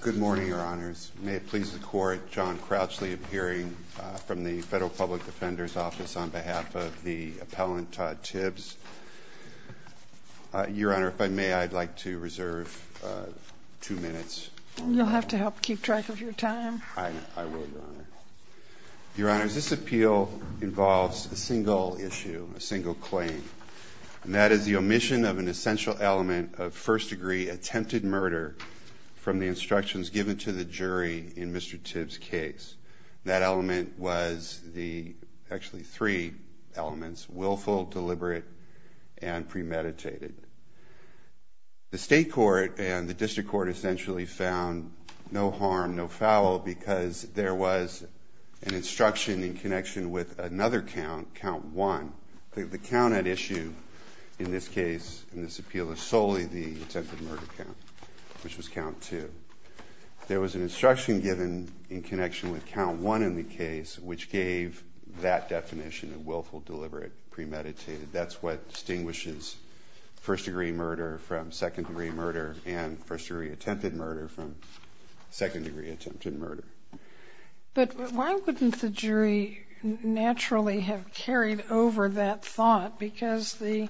Good morning, Your Honors. May it please the Court, John Crouchley appearing from the Federal Public Defender's Office on behalf of the appellant Todd Tibbs. Your Honor, if I may, I'd like to reserve two minutes. You'll have to help keep track of your time. I will, Your Honor. Your Honors, this appeal involves a single issue, a single claim. And that is the omission of an essential element of first-degree attempted murder from the instructions given to the jury in Mr. Tibbs' case. That element was the, actually three elements, willful, deliberate, and premeditated. The State Court and the District Court essentially found no harm, no foul, because there was an instruction in connection with another count, Count 1. The count at issue in this case, in this appeal, is solely the attempted murder count, which was Count 2. There was an instruction given in connection with Count 1 in the case, which gave that definition, a willful, deliberate, premeditated. That's what distinguishes first-degree murder from second-degree murder and first-degree attempted murder from second-degree attempted murder. But why wouldn't the jury naturally have carried over that thought? Because the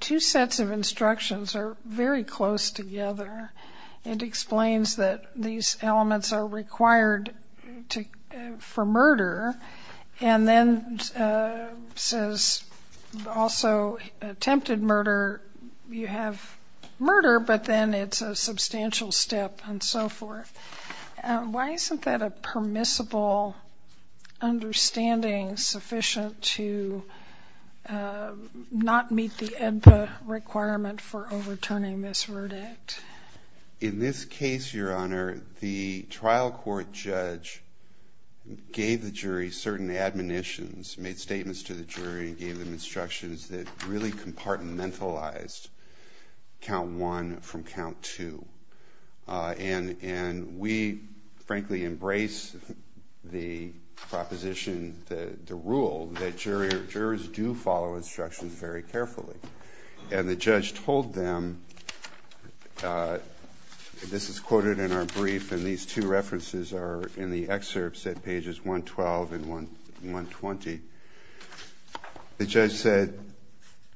two sets of instructions are very close together. It explains that these elements are required for murder, and then says also attempted murder, you have murder, but then it's a substantial step, and so forth. Why isn't that a permissible understanding sufficient to not meet the ENPA requirement for overturning this verdict? In this case, Your Honor, the trial court judge gave the jury certain admonitions, made statements to the jury, and gave them instructions that really compartmentalized Count 1 from Count 2. And we, frankly, embrace the proposition, the rule, that jurors do follow instructions very carefully. And the judge told them, this is quoted in our brief, and these two references are in the excerpts at pages 112 and 120. The judge said,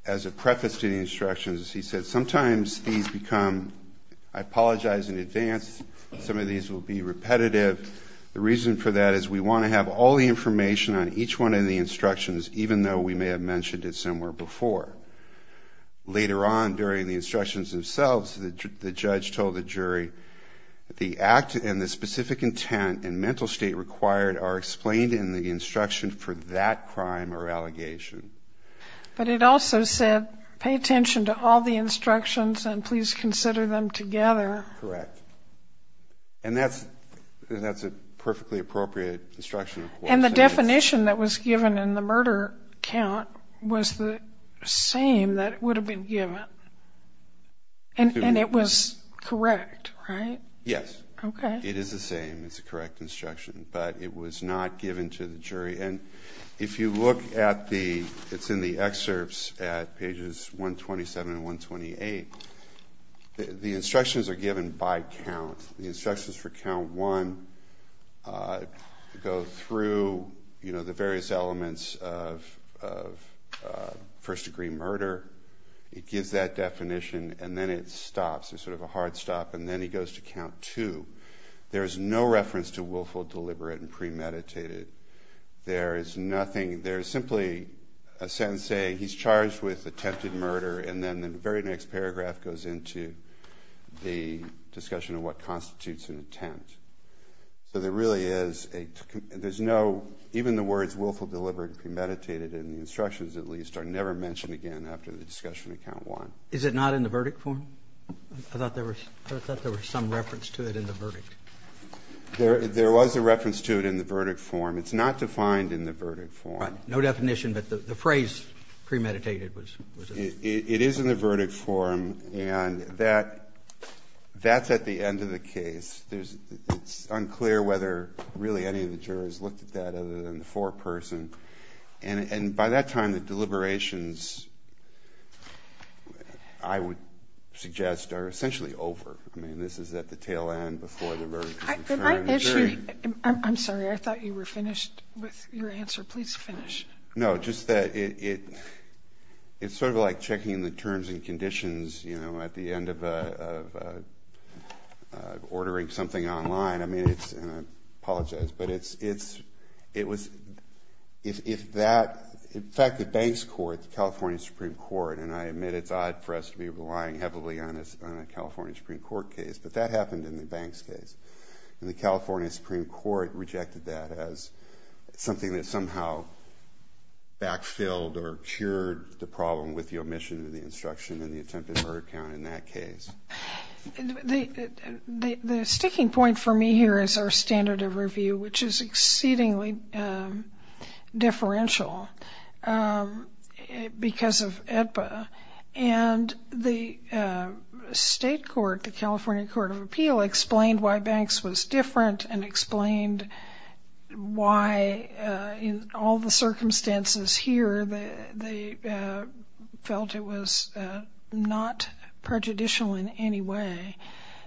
as a preface to the instructions, he said, sometimes these become, I apologize in advance, some of these will be repetitive. The reason for that is we want to have all the information on each one of the instructions, even though we may have mentioned it somewhere before. Later on, during the instructions themselves, the judge told the jury, the act and the specific intent and mental state required are explained in the instruction for that crime or allegation. But it also said, pay attention to all the instructions and please consider them together. Correct. And that's a perfectly appropriate instruction. And the definition that was given in the murder count was the same that would have been given. And it was correct, right? Yes. Okay. It is the same. It's a correct instruction. But it was not given to the jury. And if you look at the, it's in the excerpts at pages 127 and 128, the instructions are given by count. The instructions for count one go through the various elements of first degree murder. It gives that definition and then it stops. It's sort of a hard stop. And then he goes to count two. There is no reference to willful, deliberate, and premeditated. There is nothing. There is simply a sentence saying he's charged with attempted murder. And then the very next paragraph goes into the discussion of what constitutes an attempt. So there really is a, there's no, even the words willful, deliberate, and premeditated in the instructions at least are never mentioned again after the discussion of count one. Is it not in the verdict form? I thought there was some reference to it in the verdict. There was a reference to it in the verdict form. It's not defined in the verdict form. No definition, but the phrase premeditated was. It is in the verdict form. And that's at the end of the case. It's unclear whether really any of the jurors looked at that other than the foreperson. And by that time, the deliberations, I would suggest, are essentially over. I mean, this is at the tail end before the verdict is inferred. I'm sorry. I thought you were finished with your answer. Please finish. No, just that it's sort of like checking the terms and conditions, you know, at the end of ordering something online. I mean, it's, and I apologize, but it's, it was, if that, in fact, the banks court, the California Supreme Court, and I admit it's odd for us to be relying heavily on a California Supreme Court case, but that happened in the banks case. And the California Supreme Court rejected that as something that somehow backfilled or cured the problem with the omission of the instruction in the attempted murder count in that case. The sticking point for me here is our standard of review, which is exceedingly differential because of AEDPA. And the state court, the California Court of Appeal, explained why banks was different and explained why in all the circumstances here they felt it was not prejudicial in any way.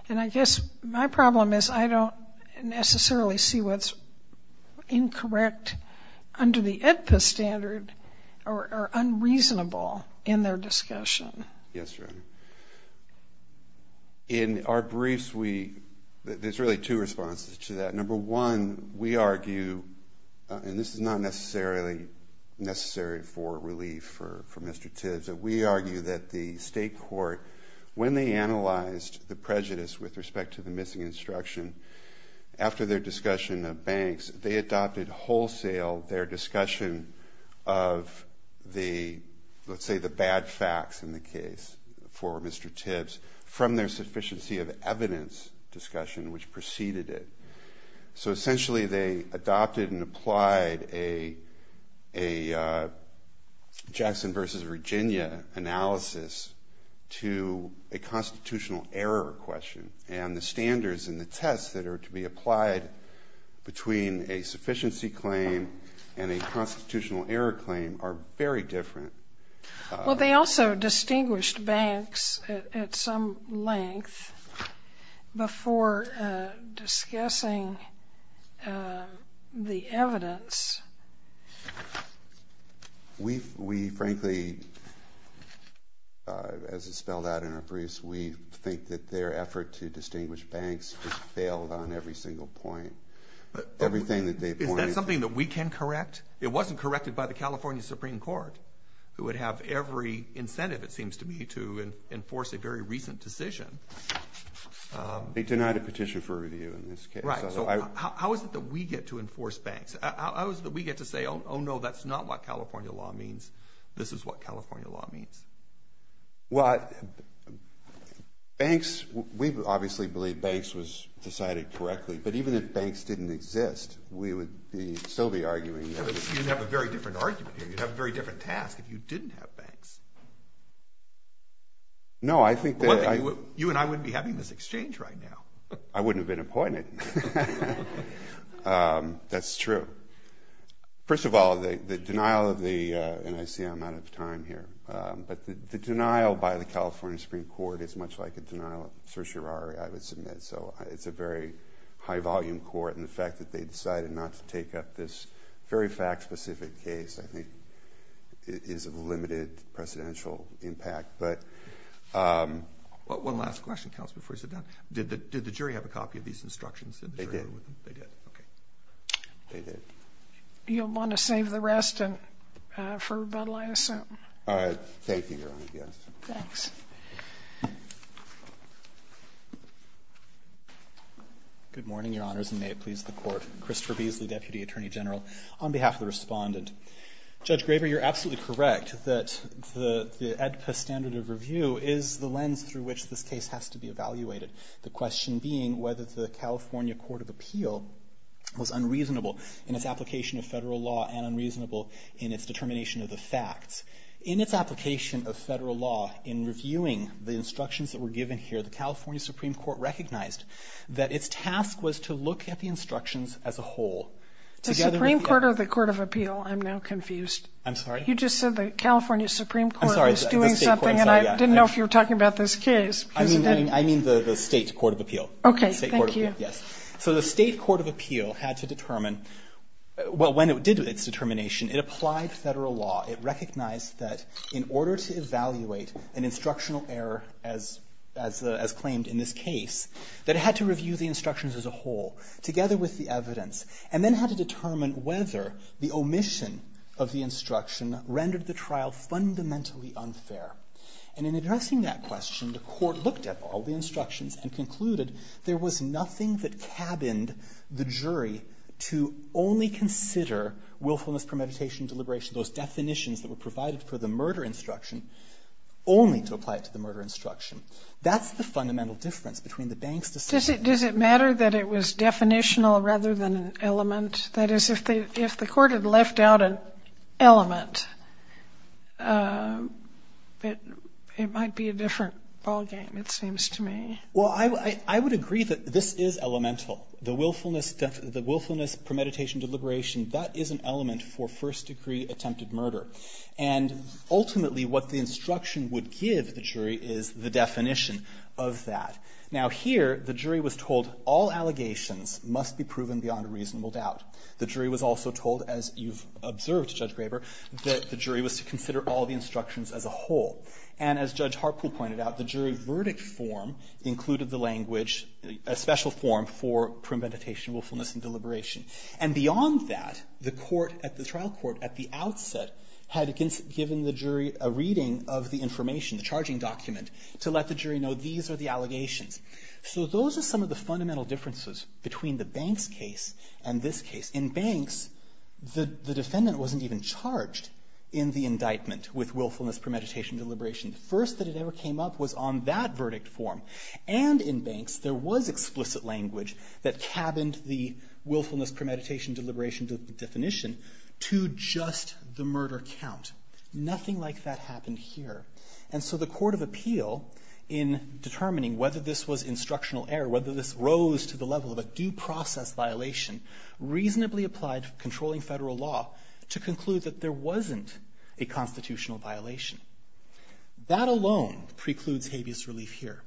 And I guess my problem is I don't necessarily see what's incorrect under the AEDPA standard or unreasonable in their discussion. Yes, Your Honor. In our briefs, we, there's really two responses to that. Number one, we argue, and this is not necessarily necessary for relief for Mr. Tibbs, but we argue that the state court, when they analyzed the prejudice with respect to the missing instruction, after their discussion of banks, they adopted wholesale their discussion of the, let's say, the bad facts in the case for Mr. Tibbs from their sufficiency of evidence discussion, which preceded it. So essentially they adopted and applied a Jackson versus Virginia analysis to a constitutional error question. And the standards and the tests that are to be applied between a sufficiency claim and a constitutional error claim are very different. Well, they also distinguished banks at some length before discussing the evidence. We frankly, as it's spelled out in our briefs, we think that their effort to distinguish banks has failed on every single point. Is that something that we can correct? It wasn't corrected by the California Supreme Court, who would have every incentive it seems to me to enforce a very recent decision. They denied a petition for review in this case. Right. So how is it that we get to enforce banks? How is it that we get to say, oh, no, that's not what California law means. This is what California law means. Well, banks, we obviously believe banks was decided correctly. But even if banks didn't exist, we would still be arguing. You'd have a very different argument here. You'd have a very different task if you didn't have banks. No, I think that… One thing, you and I wouldn't be having this exchange right now. I wouldn't have been appointed. Right. That's true. First of all, the denial of the… And I see I'm out of time here. But the denial by the California Supreme Court is much like a denial of certiorari, I would submit. So it's a very high-volume court, and the fact that they decided not to take up this very fact-specific case, I think, is of limited presidential impact. One last question, Kallis, before you sit down. Did the jury have a copy of these instructions? They did. They did. Okay. They did. You'll want to save the rest for rebuttal, I assume. Thank you, Your Honor. Yes. Thanks. Good morning, Your Honors, and may it please the Court. Christopher Beasley, Deputy Attorney General. On behalf of the Respondent. Judge Graver, you're absolutely correct that the AEDPA standard of review is the lens through which this case has to be evaluated, the question being whether the California Court of Appeal was unreasonable in its application of federal law and unreasonable in its determination of the facts. In its application of federal law, in reviewing the instructions that were given here, the California Supreme Court recognized that its task was to look at the instructions as a whole. The Supreme Court or the Court of Appeal? I'm now confused. I'm sorry? You just said the California Supreme Court was doing something, and I didn't know if you were talking about this case. I mean the State Court of Appeal. Okay. Thank you. Yes. So the State Court of Appeal had to determine, well, when it did its determination, it applied federal law. It recognized that in order to evaluate an instructional error, as claimed in this case, that it had to review the instructions as a whole, together with the evidence, and then had to determine whether the omission of the instruction rendered the trial fundamentally unfair. And in addressing that question, the Court looked at all the instructions and concluded there was nothing that cabined the jury to only consider willfulness, premeditation, and deliberation, those definitions that were provided for the murder instruction, only to apply it to the murder instruction. That's the fundamental difference between the banks' decisions. Does it matter that it was definitional rather than an element? That is, if the Court had left out an element, it might be a different ballgame, it seems to me. Well, I would agree that this is elemental. The willfulness, premeditation, deliberation, that is an element for first-degree attempted murder. And ultimately what the instruction would give the jury is the definition of that. Now here, the jury was told all allegations must be proven beyond a reasonable doubt. The jury was also told, as you've observed, Judge Graber, that the jury was to consider all the instructions as a whole. And as Judge Harpool pointed out, the jury verdict form included the language, a special form for premeditation, willfulness, and deliberation. And beyond that, the trial court at the outset had given the jury a reading of the information, the charging document, to let the jury know these are the allegations. So those are some of the fundamental differences between the banks' case and this case. In banks, the defendant wasn't even charged in the indictment with willfulness, premeditation, deliberation. The first that it ever came up was on that verdict form. And in banks, there was explicit language that cabined the willfulness, premeditation, deliberation definition to just the murder count. Nothing like that happened here. And so the Court of Appeal, in determining whether this was instructional error, whether this rose to the level of a due process violation, reasonably applied controlling federal law to conclude that there wasn't a constitutional violation. That alone precludes habeas relief here.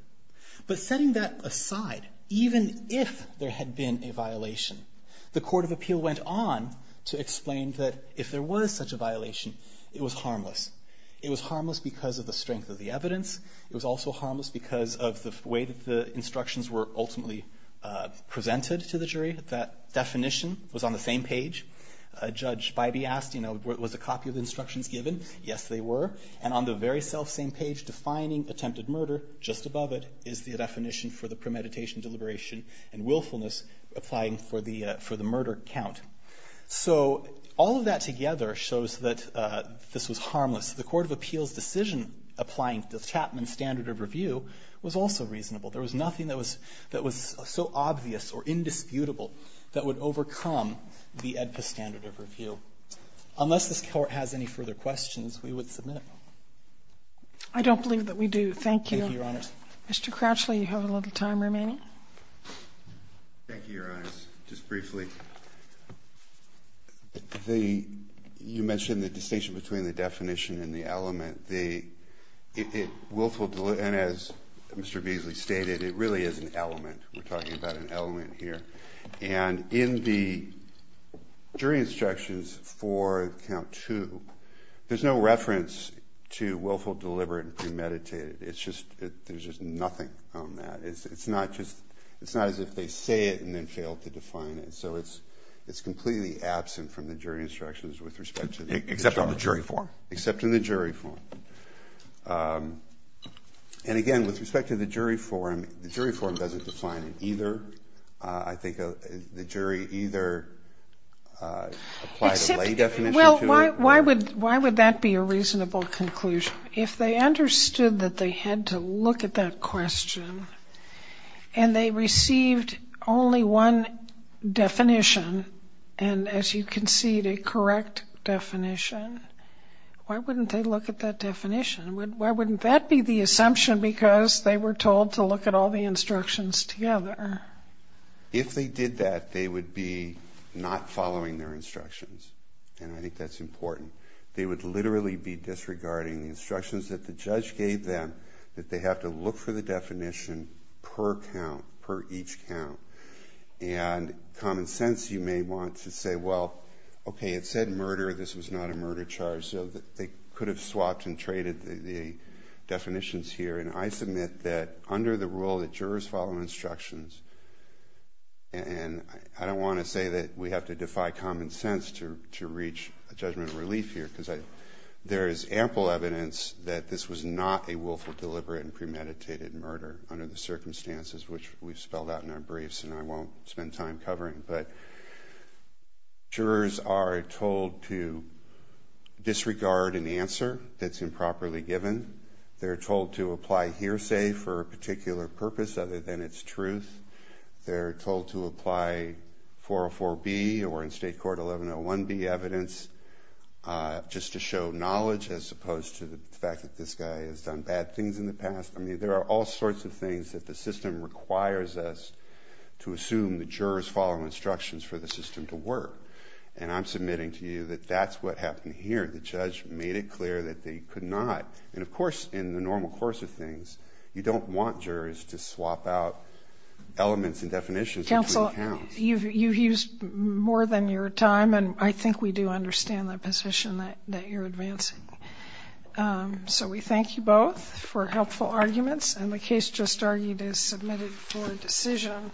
But setting that aside, even if there had been a violation, the Court of Appeal went on to explain that if there was such a violation, it was harmless. It was harmless because of the strength of the evidence. It was also harmless because of the way that the instructions were ultimately presented to the jury. That definition was on the same page. Judge Bybee asked, you know, was a copy of the instructions given? Yes, they were. And on the very selfsame page defining attempted murder, just above it, is the definition for the premeditation, deliberation, and willfulness applying for the murder count. So all of that together shows that this was harmless. The Court of Appeal's decision applying the Chapman standard of review was also reasonable. There was nothing that was so obvious or indisputable that would overcome the AEDPA standard of review. Unless this Court has any further questions, we would submit it. I don't believe that we do. Thank you. Thank you, Your Honor. Mr. Crouchley, you have a little time remaining. Thank you, Your Honor. Just briefly, you mentioned the distinction between the definition and the element. And as Mr. Beasley stated, it really is an element. We're talking about an element here. And in the jury instructions for count two, there's no reference to willful, deliberate, and premeditated. There's just nothing on that. It's not as if they say it and then fail to define it. So it's completely absent from the jury instructions with respect to the charge. Except on the jury form. Except in the jury form. And again, with respect to the jury form, the jury form doesn't define it either. I think the jury either applied a lay definition to it. Well, why would that be a reasonable conclusion? If they understood that they had to look at that question and they received only one definition, and, as you concede, a correct definition, why wouldn't they look at that definition? Why wouldn't that be the assumption? Because they were told to look at all the instructions together. If they did that, they would be not following their instructions. And I think that's important. They would literally be disregarding the instructions that the judge gave them, that they have to look for the definition per count, per each count. And common sense, you may want to say, well, okay, it said murder. This was not a murder charge. So they could have swapped and traded the definitions here. And I submit that under the rule that jurors follow instructions, and I don't want to say that we have to defy common sense to reach a judgment of relief here because there is ample evidence that this was not a willful, deliberate, and premeditated murder under the circumstances which we've spelled out in our briefs and I won't spend time covering. But jurors are told to disregard an answer that's improperly given. They're told to apply hearsay for a particular purpose other than its truth. They're told to apply 404B or in state court 1101B evidence just to show knowledge as opposed to the fact that this guy has done bad things in the past. I mean, there are all sorts of things that the system requires us to assume that jurors follow instructions for the system to work. And I'm submitting to you that that's what happened here. The judge made it clear that they could not. And, of course, in the normal course of things, you don't want jurors to swap out elements and definitions between accounts. Counsel, you've used more than your time, and I think we do understand the position that you're advancing. So we thank you both for helpful arguments, and the case just argued is submitted for decision.